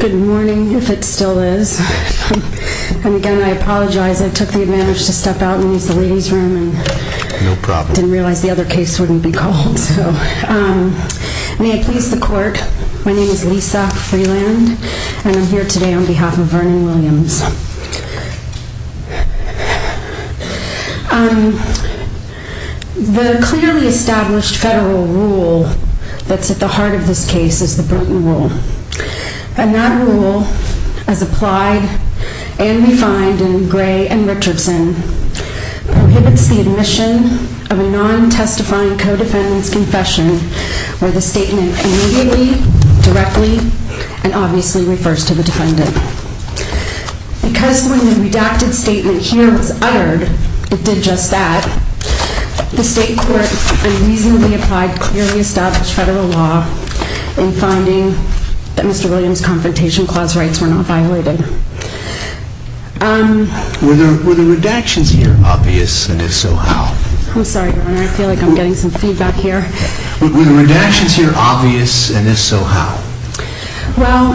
Good morning, if it still is. And again, I apologize, I took the advantage to step out and use the ladies room and didn't realize the other case wouldn't be called. May I please the court, my name is Lisa Freeland and I'm here today on behalf of Vernon Williams. The clearly established federal rule that's at the heart of this case is the Bruton Rule. And that rule, as applied and refined in Gray and Richardson, prohibits the admission of a non-testifying co-defendant's confession where the statement immediately, directly, and obviously refers to the defendant. Because when the redacted statement here was uttered, it did just that, the state court unreasonably applied clearly established federal law in finding that Mr. Williams' Confrontation Clause rights were not violated. Were the redactions here obvious, and if so, how? I'm sorry, Your Honor, I feel like I'm getting some feedback here. Were the redactions here obvious, and if so, how? Well,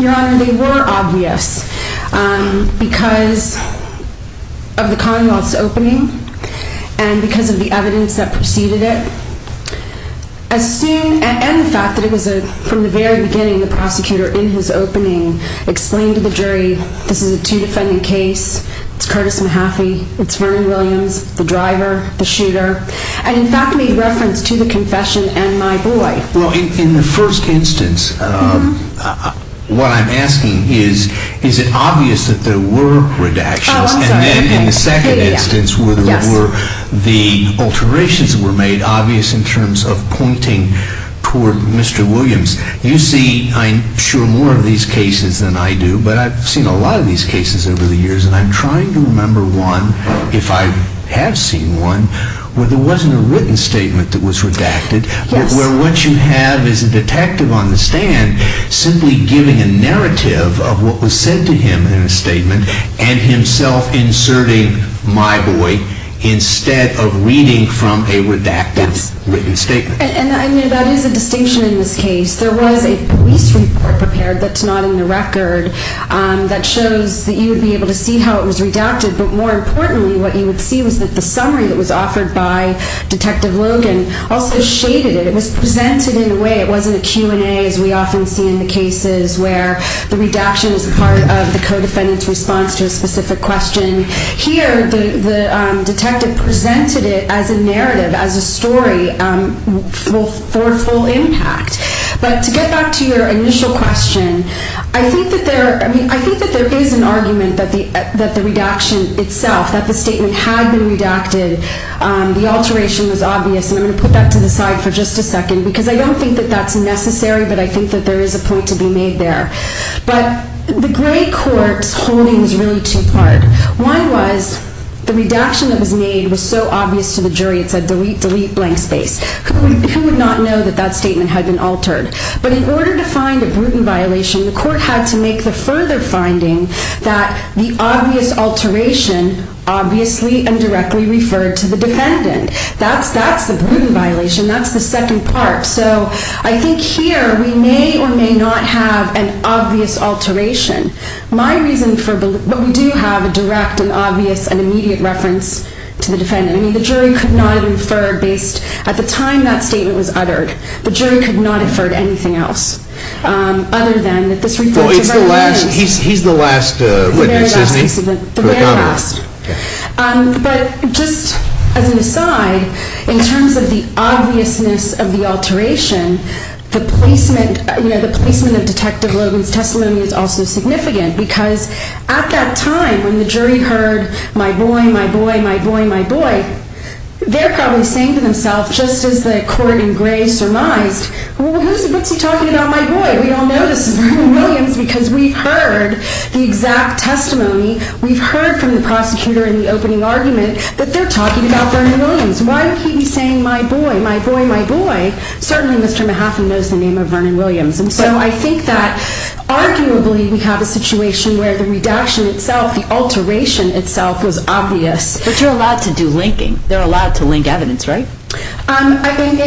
Your Honor, they were obvious because of the Commonwealth's opening and because of the evidence that preceded it. And the fact that it was from the very beginning, the prosecutor in his opening explained to the jury, this is a two defending case, it's Curtis Mahaffey, it's Vernon Williams, the driver, the shooter, and in fact made reference to the confession and my boy. Well, in the first instance, what I'm asking is, is it obvious that there were redactions? Oh, I'm sorry. And then in the second instance, were the alterations were made obvious in terms of pointing toward Mr. Williams? You see, I'm sure, more of these cases than I do, but I've seen a lot of these cases over the years and I'm trying to remember one, if I have seen one, where there wasn't a written statement that was redacted. Where what you have is a detective on the stand simply giving a narrative of what was said to him in a statement and himself inserting my boy instead of reading from a redacted written statement. And that is a distinction in this case. But to get back to your initial question, I think that there is an argument that the redaction itself, that the statement had been redacted, the alteration was obvious, and I'm going to put that to the side for just a second because I don't think that that's necessary, but I think that there is a point to be made there. But the gray court's holding is really two-part. One was the redaction that was made was so obvious to the jury, it said delete, delete, blank space. Who would not know that that statement had been altered? But in order to find a Bruton violation, the court had to make the further finding that the obvious alteration obviously and directly referred to the defendant. That's the Bruton violation. That's the second part. So I think here we may or may not have an obvious alteration. My reason for what we do have, a direct and obvious and immediate reference to the defendant. I mean, the jury could not infer based at the time that statement was uttered. The jury could not infer to anything else other than that this reference is very obvious. Well, he's the last witness, isn't he? The very last witness of the redacted. But just as an aside, in terms of the obviousness of the alteration, the placement of Detective Logan's testimony is also significant, because at that time when the jury heard my boy, my boy, my boy, my boy, they're probably saying to themselves, just as the court in gray surmised, well, what's he talking about, my boy? We all know this is Vernon Williams because we've heard the exact testimony. We've heard from the prosecutor in the opening argument that they're talking about Vernon Williams. Why would he be saying my boy, my boy, my boy? Certainly Mr. Mahaffey knows the name of Vernon Williams. And so I think that arguably we have a situation where the redaction itself, the alteration itself, was obvious. But you're allowed to do linking. They're allowed to link evidence, right?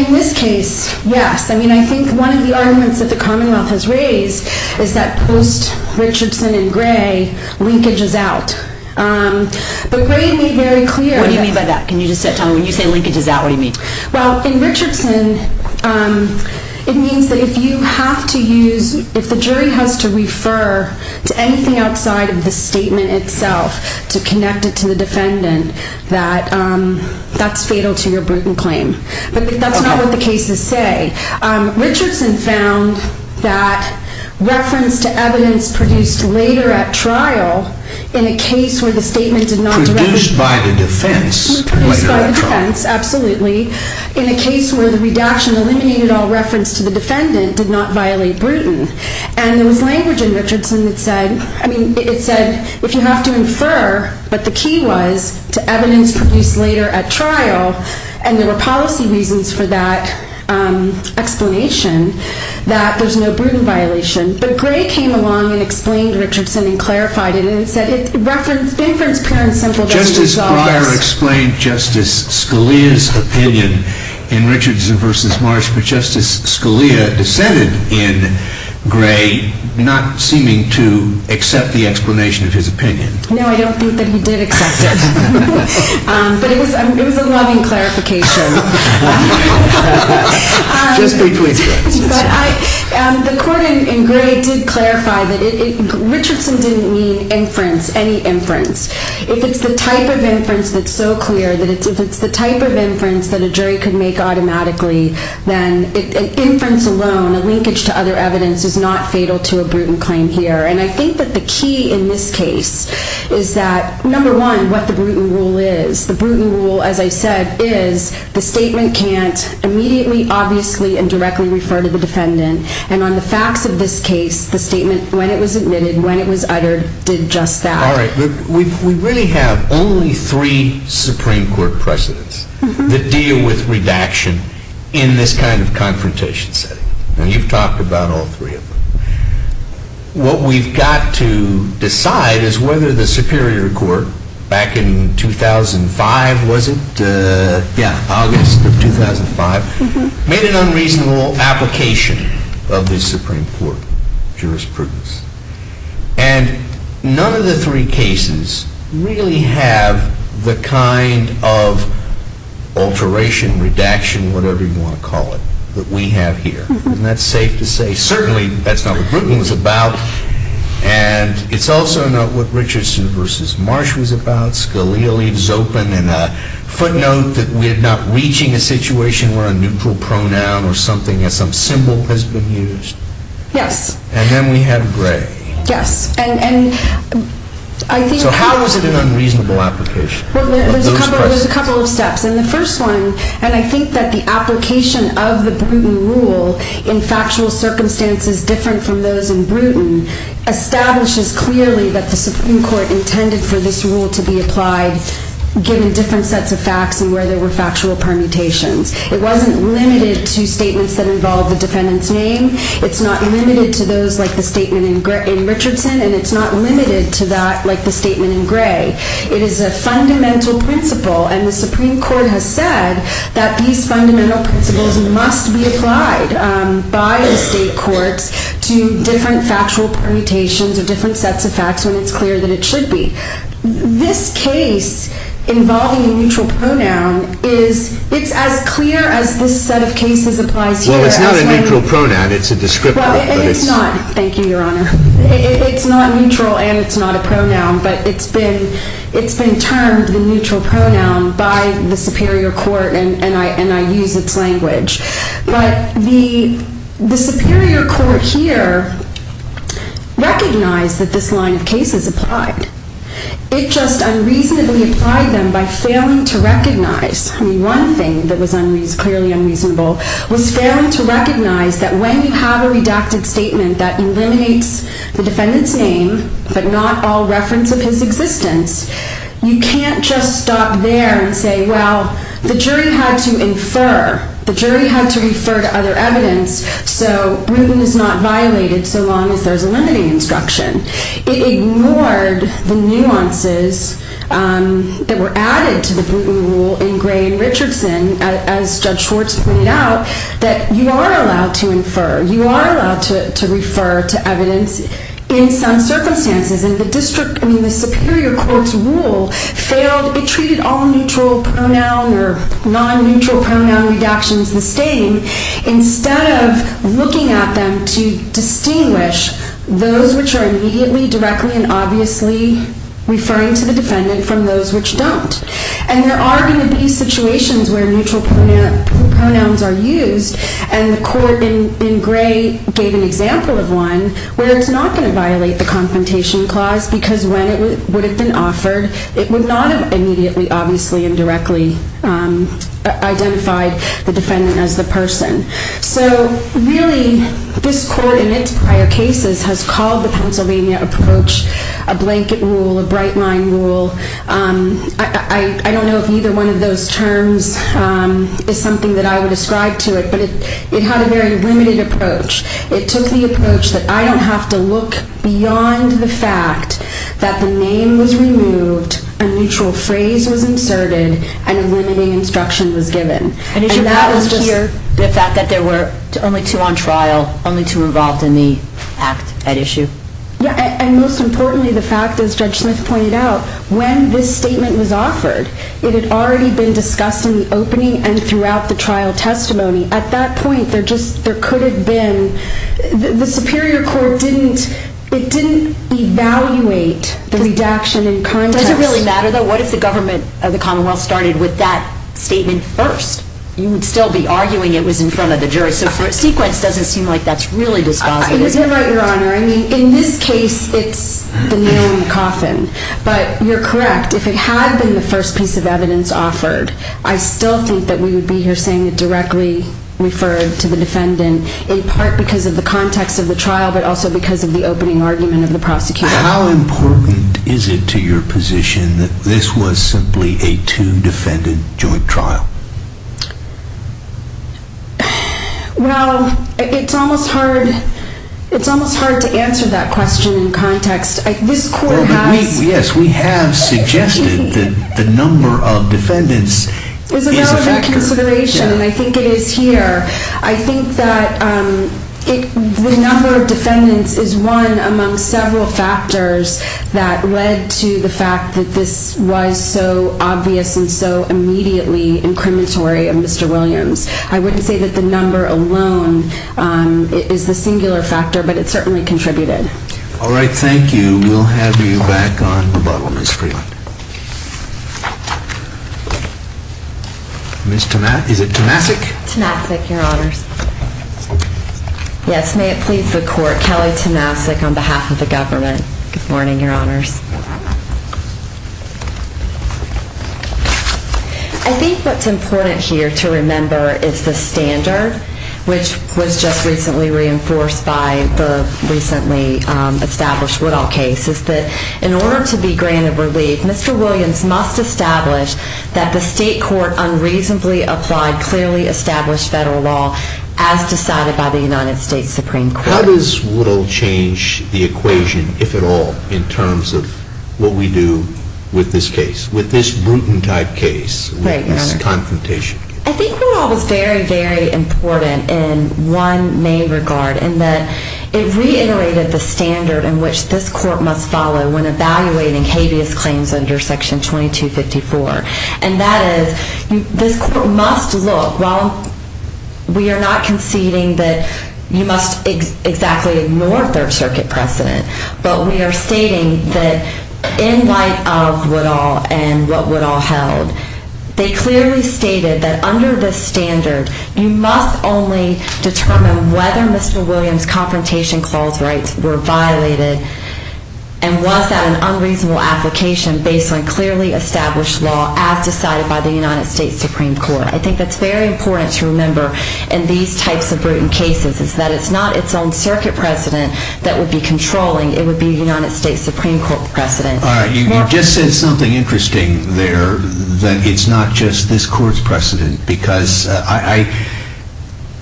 In this case, yes. I mean, I think one of the arguments that the Commonwealth has raised is that post-Richardson in gray, linkage is out. But gray made very clear that... What do you mean by that? Can you just say it to me? When you say linkage is out, what do you mean? Well, in Richardson, it means that if you have to use, if the jury has to refer to anything outside of the statement itself to connect it to the defendant, that that's fatal to your Bruton claim. But that's not what the cases say. Richardson found that reference to evidence produced later at trial in a case where the statement did not directly... Produced by the defense later at trial. Produced by the defense, absolutely. In a case where the redaction eliminated all reference to the defendant did not violate Bruton. And there was language in Richardson that said, I mean, it said if you have to infer, but the key was to evidence produced later at trial. And there were policy reasons for that explanation that there's no Bruton violation. But gray came along and explained Richardson and clarified it and said it referenced... Justice Breyer explained Justice Scalia's opinion in Richardson versus Marsh, but Justice Scalia dissented in gray, not seeming to accept the explanation of his opinion. No, I don't think that he did accept it. But it was a loving clarification. Just between questions. The court in gray did clarify that Richardson didn't mean inference, any inference. If it's the type of inference that's so clear, that if it's the type of inference that a jury could make automatically, then inference alone, a linkage to other evidence is not fatal to a Bruton claim here. And I think that the key in this case is that, number one, what the Bruton rule is. The Bruton rule, as I said, is the statement can't immediately, obviously, and directly refer to the defendant. And on the facts of this case, the statement, when it was admitted, when it was uttered, did just that. All right. We really have only three Supreme Court precedents that deal with redaction in this kind of confrontation setting. And you've talked about all three of them. What we've got to decide is whether the Superior Court, back in 2005, was it? Yeah, August of 2005, made an unreasonable application of this Supreme Court jurisprudence. And none of the three cases really have the kind of alteration, redaction, whatever you want to call it, that we have here. And that's safe to say. Certainly, that's not what Bruton was about. And it's also not what Richardson v. Marsh was about. Scalia leaves open in a footnote that we're not reaching a situation where a neutral pronoun or something, or some symbol has been used. Yes. And then we have gray. Yes. And I think… So how is it an unreasonable application? Well, there's a couple of steps. And the first one, and I think that the application of the Bruton rule in factual circumstances different from those in Bruton, establishes clearly that the Supreme Court intended for this rule to be applied given different sets of facts and where there were factual permutations. It wasn't limited to statements that involved the defendant's name. It's not limited to those like the statement in Richardson. And it's not limited to that like the statement in gray. It is a fundamental principle. And the Supreme Court has said that these fundamental principles must be applied by the state courts to different factual permutations or different sets of facts when it's clear that it should be. This case involving a neutral pronoun is as clear as this set of cases applies here. Well, it's not a neutral pronoun. It's a descriptor. It's not. Thank you, Your Honor. It's not neutral and it's not a pronoun. But it's been termed the neutral pronoun by the Superior Court and I use its language. But the Superior Court here recognized that this line of cases applied. It just unreasonably applied them by failing to recognize. I mean, one thing that was clearly unreasonable was failing to recognize that when you have a redacted statement that eliminates the defendant's name but not all reference of his existence, you can't just stop there and say, well, the jury had to infer. The jury had to refer to other evidence, so Bruton is not violated so long as there's a limiting instruction. It ignored the nuances that were added to the Bruton rule in Gray and Richardson, as Judge Schwartz pointed out, that you are allowed to infer. You are allowed to refer to evidence in some circumstances. And the Superior Court's rule failed. It treated all neutral pronoun or non-neutral pronoun redactions the same instead of looking at them to distinguish those which are immediately, directly, and obviously referring to the defendant from those which don't. And there are going to be situations where neutral pronouns are used, and the court in Gray gave an example of one where it's not going to violate the Confrontation Clause because when it would have been offered, it would not have immediately, obviously, and directly identified the defendant as the person. So really, this court in its prior cases has called the Pennsylvania approach a blanket rule, a bright-line rule. I don't know if either one of those terms is something that I would ascribe to it, but it had a very limited approach. It took the approach that I don't have to look beyond the fact that the name was removed, a neutral phrase was inserted, and a limiting instruction was given. And that was just the fact that there were only two on trial, only two involved in the act at issue. And most importantly, the fact, as Judge Smith pointed out, when this statement was offered, it had already been discussed in the opening and throughout the trial testimony. At that point, there could have been... The Superior Court didn't evaluate the redaction in context. Does it really matter, though? What if the government of the Commonwealth started with that statement first? You would still be arguing it was in front of the jury. So for a sequence, it doesn't seem like that's really dispositive. You're right, Your Honor. I mean, in this case, it's the nail in the coffin. But you're correct. If it had been the first piece of evidence offered, I still think that we would be here saying it directly referred to the defendant, in part because of the context of the trial, but also because of the opening argument of the prosecutor. How important is it to your position that this was simply a two-defendant joint trial? Well, it's almost hard to answer that question in context. This Court has... Yes, we have suggested that the number of defendants is a factor. It's a relevant consideration, and I think it is here. I think that the number of defendants is one among several factors that led to the fact that this was so obvious and so immediately incriminatory of Mr. Williams. I wouldn't say that the number alone is the singular factor, but it certainly contributed. All right, thank you. We'll have you back on the bottle, Ms. Freeland. Ms. Tomasik? Tomasik, Your Honors. Yes, may it please the Court, Kelly Tomasik on behalf of the government. Good morning, Your Honors. I think what's important here to remember is the standard, which was just recently reinforced by the recently established Woodall case, is that in order to be granted relief, Mr. Williams must establish that the state court unreasonably applied clearly established federal law as decided by the United States Supreme Court. How does Woodall change the equation, if at all, in terms of what we do with this case, with this Bruton-type case, with this confrontation? I think Woodall was very, very important in one main regard, in that it reiterated the standard in which this Court must follow when evaluating habeas claims under Section 2254, and that is this Court must look, while we are not conceding that you must exactly ignore Third Circuit precedent, but we are stating that in light of Woodall and what Woodall held, they clearly stated that under this standard you must only determine whether Mr. Williams' confrontation clause rights were violated and was that an unreasonable application based on clearly established law as decided by the United States Supreme Court. I think that's very important to remember in these types of Bruton cases, is that it's not its own Circuit precedent that would be controlling, it would be a United States Supreme Court precedent. You just said something interesting there, that it's not just this Court's precedent, because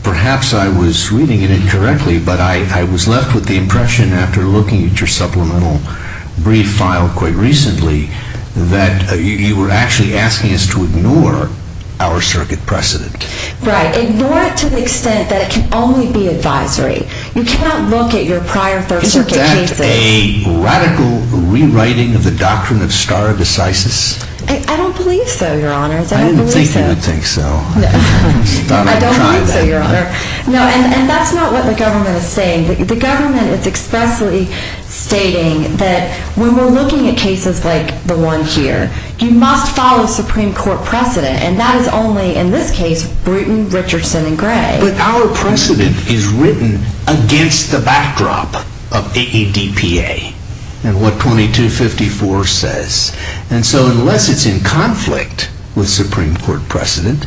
perhaps I was reading it incorrectly, but I was left with the impression, after looking at your supplemental brief file quite recently, that you were actually asking us to ignore our Circuit precedent. Right, ignore it to the extent that it can only be advisory. You cannot look at your prior Third Circuit cases. Is that a radical rewriting of the doctrine of stare decisis? I don't believe so, Your Honor. I didn't think you would think so. I don't believe so, Your Honor. And that's not what the government is saying. The government is expressly stating that when we're looking at cases like the one here, you must follow Supreme Court precedent, and that is only, in this case, Bruton, Richardson, and Gray. But our precedent is written against the backdrop of AEDPA and what 2254 says. And so unless it's in conflict with Supreme Court precedent,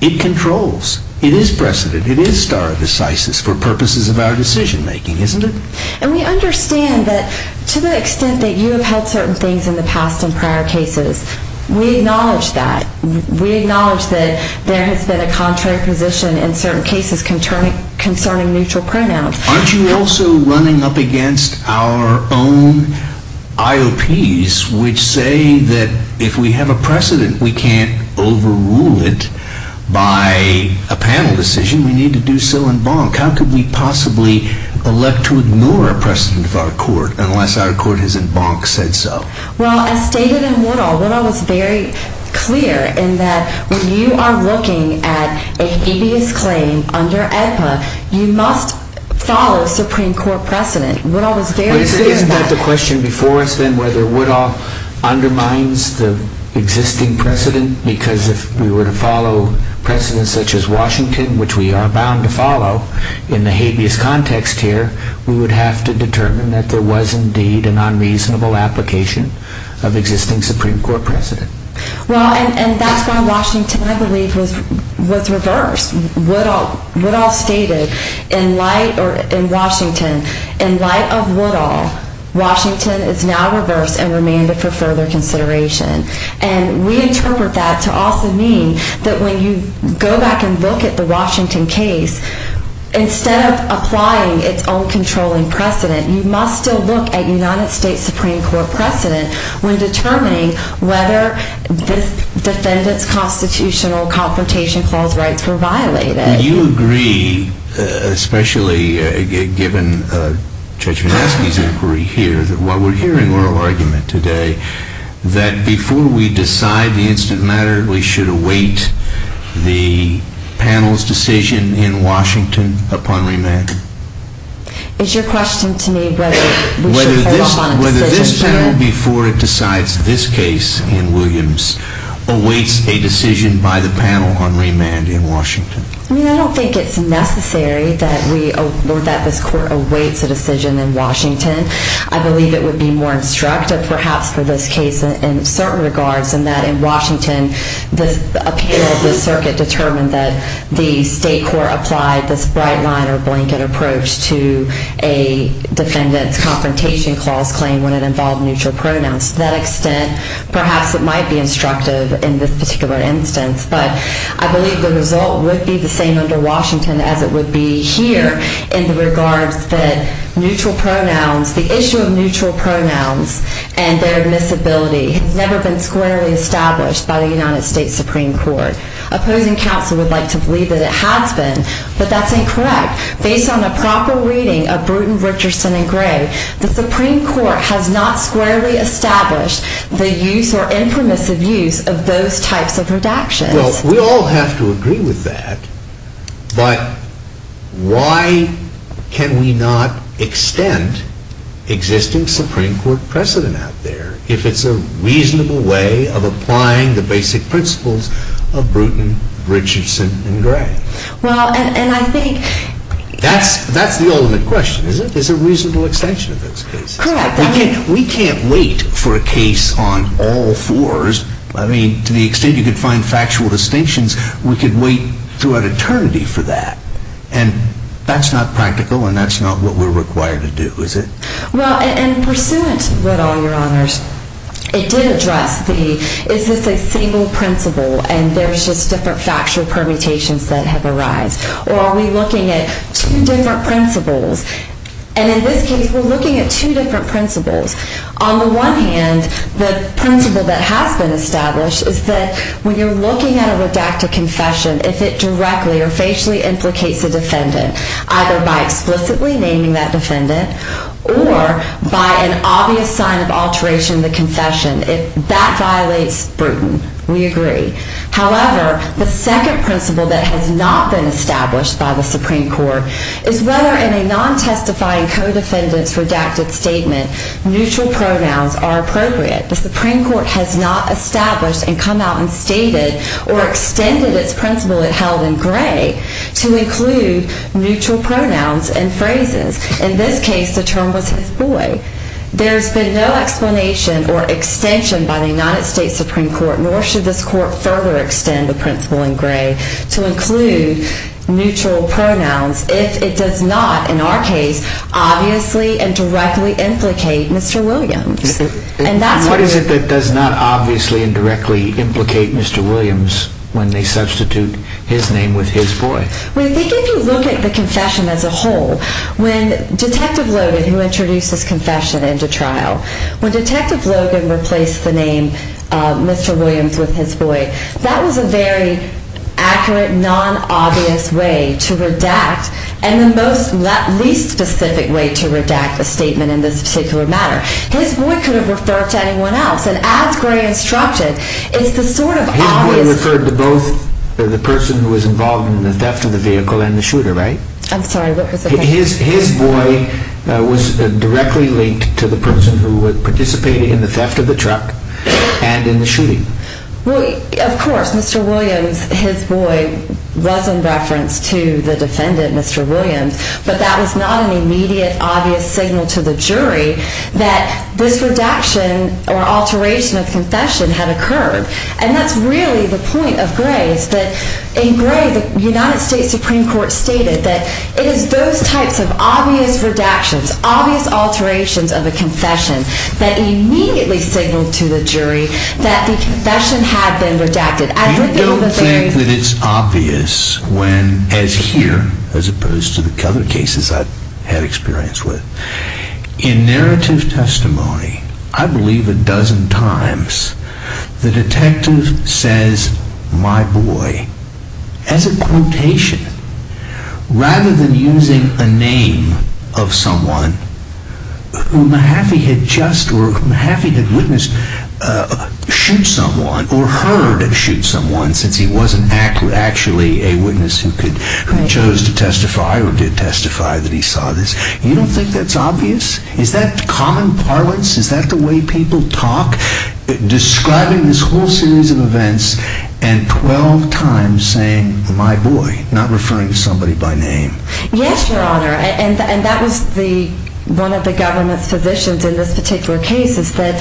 it controls. It is precedent. It is stare decisis for purposes of our decision-making, isn't it? And we understand that to the extent that you have held certain things in the past and prior cases, we acknowledge that. We acknowledge that there has been a contrary position in certain cases concerning neutral pronouns. Aren't you also running up against our own IOPs, which say that if we have a precedent, we can't overrule it by a panel decision. We need to do so in bonk. How could we possibly elect to ignore a precedent of our court unless our court has in bonk said so? Well, as stated in Woodall, Woodall was very clear in that when you are looking at a habeas claim under AEDPA, you must follow Supreme Court precedent. Woodall was very clear in that. Isn't that the question before us then, whether Woodall undermines the existing precedent? Because if we were to follow precedent such as Washington, which we are bound to follow in the habeas context here, we would have to determine that there was indeed an unreasonable application of existing Supreme Court precedent. Well, and that's why Washington, I believe, was reversed. Woodall stated in Washington, in light of Woodall, Washington is now reversed and remained it for further consideration. And we interpret that to also mean that when you go back and look at the Washington case, instead of applying its own controlling precedent, you must still look at United States Supreme Court precedent when determining whether this defendant's Constitutional Confrontation Clause rights were violated. Do you agree, especially given Judge Minaski's inquiry here, that while we're hearing oral argument today, that before we decide the instant matter, we should await the panel's decision in Washington upon remand? It's your question to me whether we should hold upon a decision. Whether this panel, before it decides this case in Williams, awaits a decision by the panel on remand in Washington? I mean, I don't think it's necessary that this court awaits a decision in Washington. I believe it would be more instructive, perhaps, for this case in certain regards, in that in Washington, the appeal of the circuit determined that the state court applied this bright line or blanket approach to a defendant's Confrontation Clause claim when it involved neutral pronouns. To that extent, perhaps it might be instructive in this particular instance. But I believe the result would be the same under Washington as it would be here in regards that neutral pronouns, the issue of neutral pronouns and their admissibility has never been squarely established by the United States Supreme Court. Opposing counsel would like to believe that it has been, but that's incorrect. Based on a proper reading of Bruton, Richardson, and Gray, the Supreme Court has not squarely established the use or imprimisive use of those types of redactions. Well, we all have to agree with that. But why can we not extend existing Supreme Court precedent out there if it's a reasonable way of applying the basic principles of Bruton, Richardson, and Gray? Well, and I think... That's the ultimate question, isn't it? There's a reasonable extension of those cases. Correct. We can't wait for a case on all fours. I mean, to the extent you could find factual distinctions, we could wait throughout eternity for that. And that's not practical, and that's not what we're required to do, is it? Well, and pursuant with all your honors, it did address the... Is this a single principle, and there's just different factual permutations that have arised? Or are we looking at two different principles? And in this case, we're looking at two different principles. On the one hand, the principle that has been established is that when you're looking at a redacted confession, if it directly or facially implicates a defendant, either by explicitly naming that defendant or by an obvious sign of alteration in the confession, that violates Bruton. We agree. However, the second principle that has not been established by the Supreme Court is whether in a non-testifying co-defendant's redacted statement neutral pronouns are appropriate. The Supreme Court has not established and come out and stated or extended its principle it held in Gray to include neutral pronouns and phrases. In this case, the term was his boy. There's been no explanation or extension by the United States Supreme Court, nor should this court further extend the principle in Gray to include neutral pronouns if it does not, in our case, obviously and directly implicate Mr. Williams. What is it that does not obviously and directly implicate Mr. Williams when they substitute his name with his boy? I think if you look at the confession as a whole, when Detective Logan, who introduces confession into trial, when Detective Logan replaced the name Mr. Williams with his boy, that was a very accurate, non-obvious way to redact and the least specific way to redact a statement in this particular matter. His boy could have referred to anyone else, and as Gray instructed, it's the sort of obvious... His boy referred to both the person who was involved in the theft of the vehicle and the shooter, right? I'm sorry, what was the question? His boy was directly linked to the person who participated in the theft of the truck and in the shooting. Well, of course, Mr. Williams, his boy, was in reference to the defendant, Mr. Williams, but that was not an immediate, obvious signal to the jury that this redaction or alteration of confession had occurred. And that's really the point of Gray's, that in Gray, the United States Supreme Court stated that it is those types of obvious redactions, obvious alterations of a confession that immediately signal to the jury that the confession had been redacted. You don't think that it's obvious when, as here, as opposed to the other cases I've had experience with, in narrative testimony, I believe a dozen times, the detective says, my boy, as a quotation, rather than using a name of someone who Mahaffey had witnessed shoot someone or heard shoot someone since he wasn't actually a witness who chose to testify or did testify that he saw this. You don't think that's obvious? Is that common parlance? Is that the way people talk? Describing this whole series of events and 12 times saying, my boy, not referring to somebody by name. Yes, Your Honor. And that was one of the government's positions in this particular case is that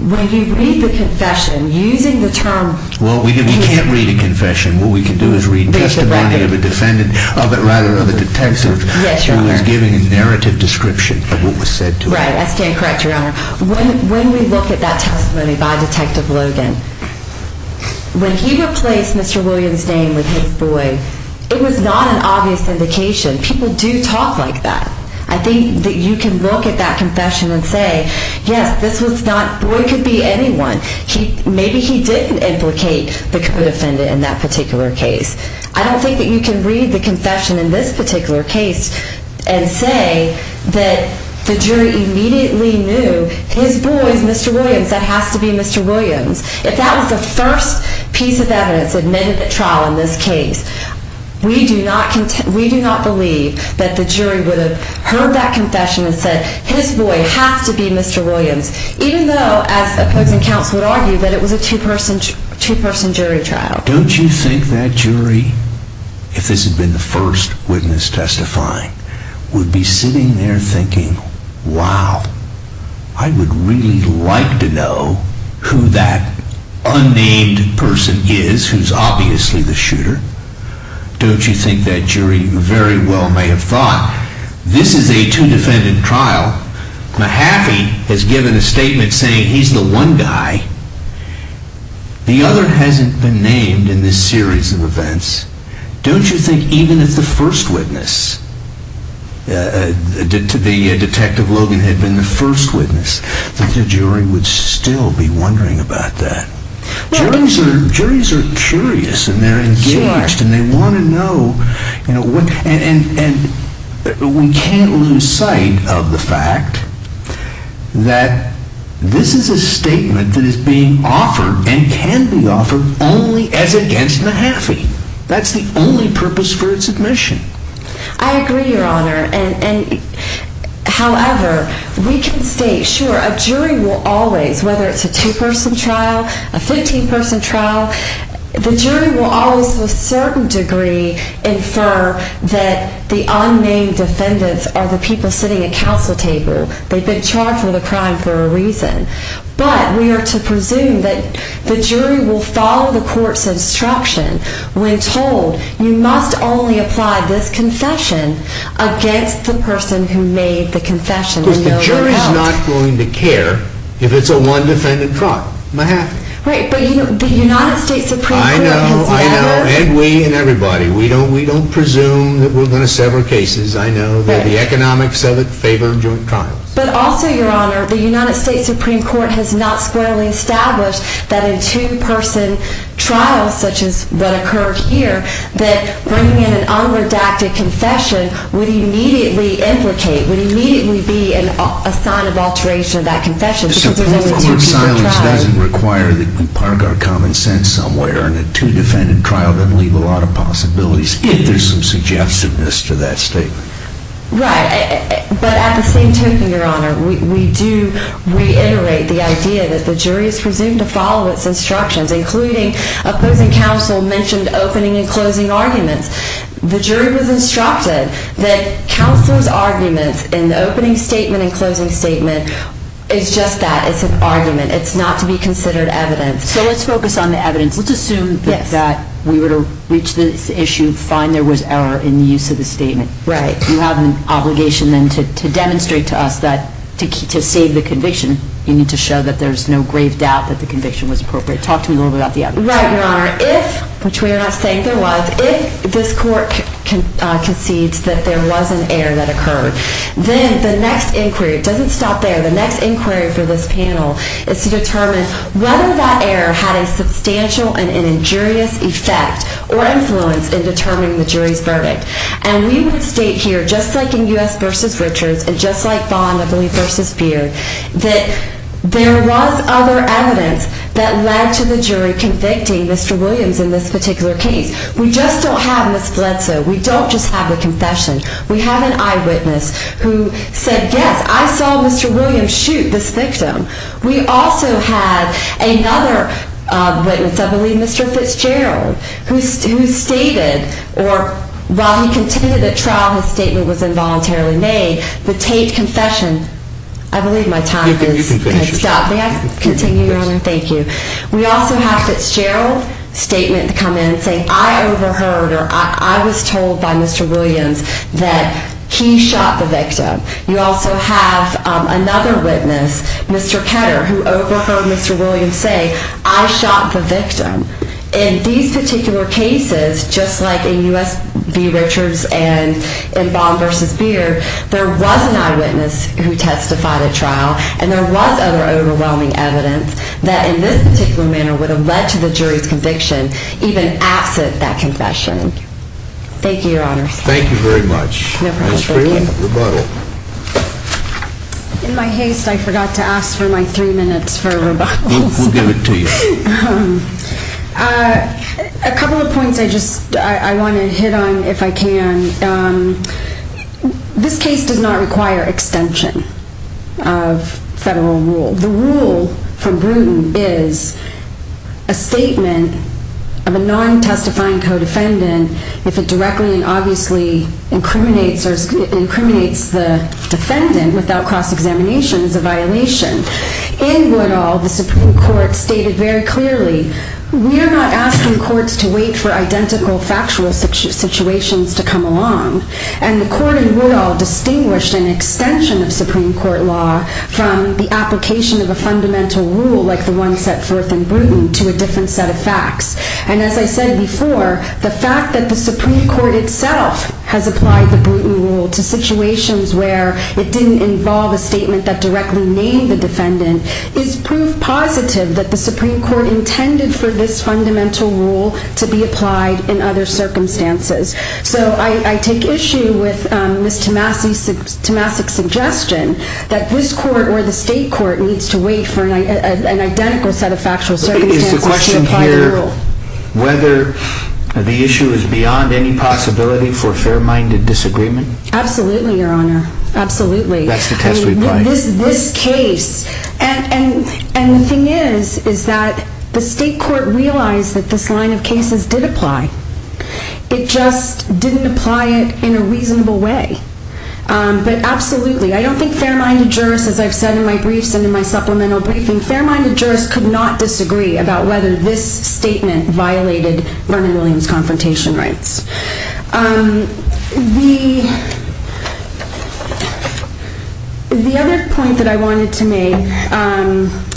when you read the confession, using the term... Well, we can't read a confession. What we can do is read testimony of a defendant, rather of a detective who is giving a narrative description of what was said to him. Right. I stand corrected, Your Honor. When we look at that testimony by Detective Logan, when he replaced Mr. Williams' name with his boy, it was not an obvious indication. People do talk like that. I think that you can look at that confession and say, yes, this was not... The boy could be anyone. Maybe he didn't implicate the co-defendant in that particular case. I don't think that you can read the confession in this particular case and say that the jury immediately knew his boy is Mr. Williams, that has to be Mr. Williams. If that was the first piece of evidence admitted at trial in this case, we do not believe that the jury would have heard that confession and said his boy has to be Mr. Williams, even though, as opposing counsel would argue, that it was a two-person jury trial. Don't you think that jury, if this had been the first witness testifying, would be sitting there thinking, wow, I would really like to know who that unnamed person is who's obviously the shooter. Don't you think that jury very well may have thought, this is a two-defendant trial. Mahaffey has given a statement saying he's the one guy. The other hasn't been named in this series of events. Don't you think even if the first witness, to be Detective Logan had been the first witness, that the jury would still be wondering about that? Juries are curious and they're engaged and they want to know. And we can't lose sight of the fact that this is a statement that is being offered and can be offered only as against Mahaffey. That's the only purpose for its admission. I agree, Your Honor. However, we can state, sure, a jury will always, whether it's a two-person trial, a 15-person trial, the jury will always to a certain degree infer that the unnamed defendants are the people sitting at counsel table. They've been charged with a crime for a reason. But we are to presume that the jury will follow the court's instruction when told you must only apply this confession against the person who made the confession. Of course, the jury's not going to care if it's a one-defendant trial. Mahaffey. Right, but the United States Supreme Court I know, I know, and we and everybody, we don't presume that we're going to settle cases. I know that the economics of it favor joint trials. But also, Your Honor, the United States Supreme Court has not squarely established that in two-person trials such as what occurred here, that bringing in an unredacted confession would immediately implicate, would immediately be a sign of alteration of that confession because there's only two-person trials. Of course, silence doesn't require that we park our common sense somewhere and a two-defendant trial doesn't leave a lot of possibilities if there's some suggestiveness to that statement. Right, but at the same token, Your Honor, we do reiterate the idea that the jury is presumed to follow its instructions, including opposing counsel mentioned opening and closing arguments. The jury was instructed that counsel's arguments in the opening statement and closing statement is just that, it's an argument. It's not to be considered evidence. So let's focus on the evidence. Let's assume that we were to reach this issue, find there was error in the use of the statement. Right. You have an obligation then to demonstrate to us that to save the conviction, you need was appropriate. Talk to me a little bit about the evidence. Right, Your Honor. If, which we are not saying there was, if this court concedes that there was an error that occurred, then the next inquiry, it doesn't stop there, the next inquiry for this panel is to determine whether that error had a substantial and injurious effect or influence in determining the jury's verdict. And we would state here, just like in U.S. versus Richards and just like Bond, I believe, versus Beard, that there was other evidence that led to the jury convicting Mr. Williams in this particular case. We just don't have Ms. Bledsoe. We don't just have the confession. We have an eyewitness who said, yes, I saw Mr. Williams shoot this victim. We also have another witness, I believe Mr. Fitzgerald, who stated, or while he continued the trial, his statement was involuntarily made, the Tate confession. I believe my time has stopped. May I continue, Your Honor? Thank you. We also have Fitzgerald's statement come in saying, I overheard, or I was told by Mr. Williams that he shot the victim. You also have another witness, Mr. Ketter, who overheard Mr. Williams say, I shot the victim. In these particular cases, just like in U.S. v. Richards and in Bond versus Beard, there was an eyewitness who testified at trial, and there was other overwhelming evidence that in this particular manner would have led to the jury's conviction even absent that confession. Thank you, Your Honor. Thank you very much. No problem. Ms. Friedland, rebuttal. In my haste, I forgot to ask for my three minutes for rebuttals. We'll give it to you. A couple of points I want to hit on if I can. This case does not require extension of federal rule. The rule from Bruton is a statement of a non-testifying co-defendant if it directly and obviously incriminates the defendant without cross-examination is a violation. In Woodall, the Supreme Court stated very clearly, we are not asking courts to wait for identical factual situations to come along. And the court in Woodall distinguished an extension of Supreme Court law from the application of a fundamental rule like the one set forth in Bruton to a different set of facts. And as I said before, the fact that the Supreme Court itself has applied the Bruton rule to situations where it didn't involve a statement that directly named for this fundamental rule to be applied in other circumstances. So I take issue with Ms. Tomasic's suggestion that this court or the state court needs to wait for an identical set of factual circumstances to apply the rule. Is the question here whether the issue is beyond any possibility for fair-minded disagreement? Absolutely, Your Honor. Absolutely. That's the test reply. This case. And the thing is, is that the state court realized that this line of cases did apply. It just didn't apply it in a reasonable way. But absolutely, I don't think fair-minded jurists, as I've said in my briefs and in my supplemental briefing, fair-minded jurists could not disagree about whether this statement violated Vernon Williams' confrontation rights. The other point that I wanted to make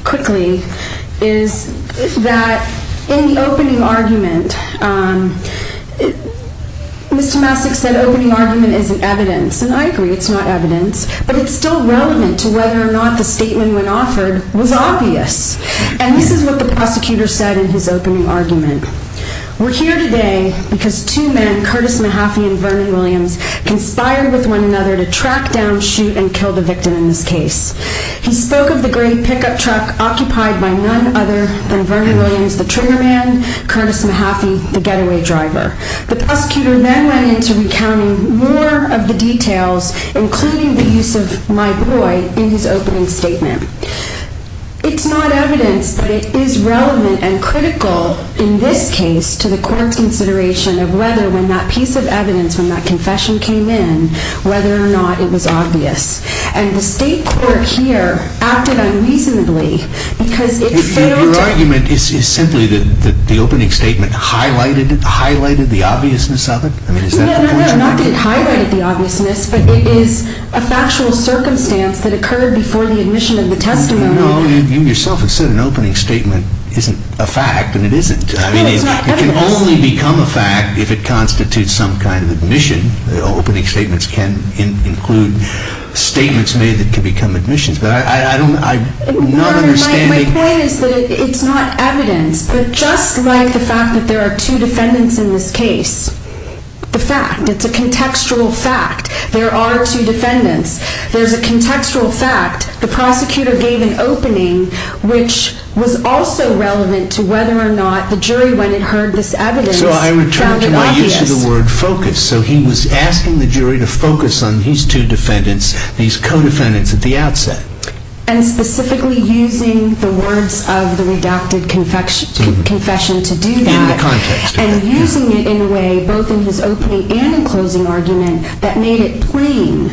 quickly is that in the opening argument, Ms. Tomasic said opening argument isn't evidence. And I agree. It's not evidence. But it's still relevant to whether or not the statement when offered was obvious. And this is what the prosecutor said in his opening argument. We're here today because two men, Curtis Mahaffey and Vernon Williams, conspired with one another to track down, shoot, and kill the victim in this case. He spoke of the gray pickup truck occupied by none other than Vernon Williams, the trigger man, Curtis Mahaffey, the getaway driver. The prosecutor then went into recounting more of the details, including the use of my boy in his opening statement. It's not evidence, but it is relevant and critical in this case to the court's consideration of whether when that piece of evidence, when that confession came in, whether or not it was obvious. And the state court here acted unreasonably, because it failed to- Your argument is simply that the opening statement highlighted the obviousness of it? I mean, is that the point you're making? No, no, no, not that it highlighted the obviousness, but it is a factual circumstance that occurred before the admission and the testimony. No, no, you yourself have said an opening statement isn't a fact, and it isn't. No, it's not evidence. It can only become a fact if it constitutes some kind of admission. Opening statements can include statements made that can become admissions. But I'm not understanding- My point is that it's not evidence, but just like the fact that there are two defendants in this case, the fact, it's a contextual fact. There are two defendants. There's a contextual fact. The prosecutor gave an opening, which the jury, when it heard this evidence, found it obvious. So I return to my use of the word focus. So he was asking the jury to focus on these two defendants, these co-defendants at the outset. And specifically using the words of the redacted confession to do that. In the context. And using it in a way, both in his opening and in closing argument, that made it plain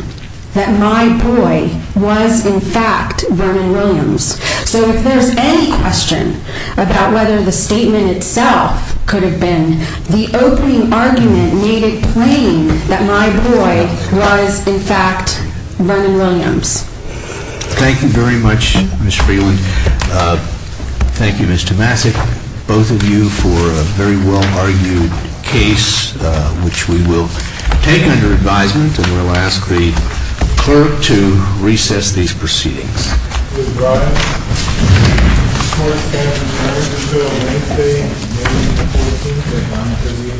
that my boy was, in fact, Vernon Williams. So if there's any question about whether the statement itself could have been the opening argument made it plain that my boy was, in fact, Vernon Williams. Thank you very much, Ms. Freeland. Thank you, Ms. Tomasik. Both of you for a very well-argued case, which we will take under advisement. And we'll ask the clerk to recess these proceedings. Please rise. This court stands adjourned until Wednesday, May 14, at 930.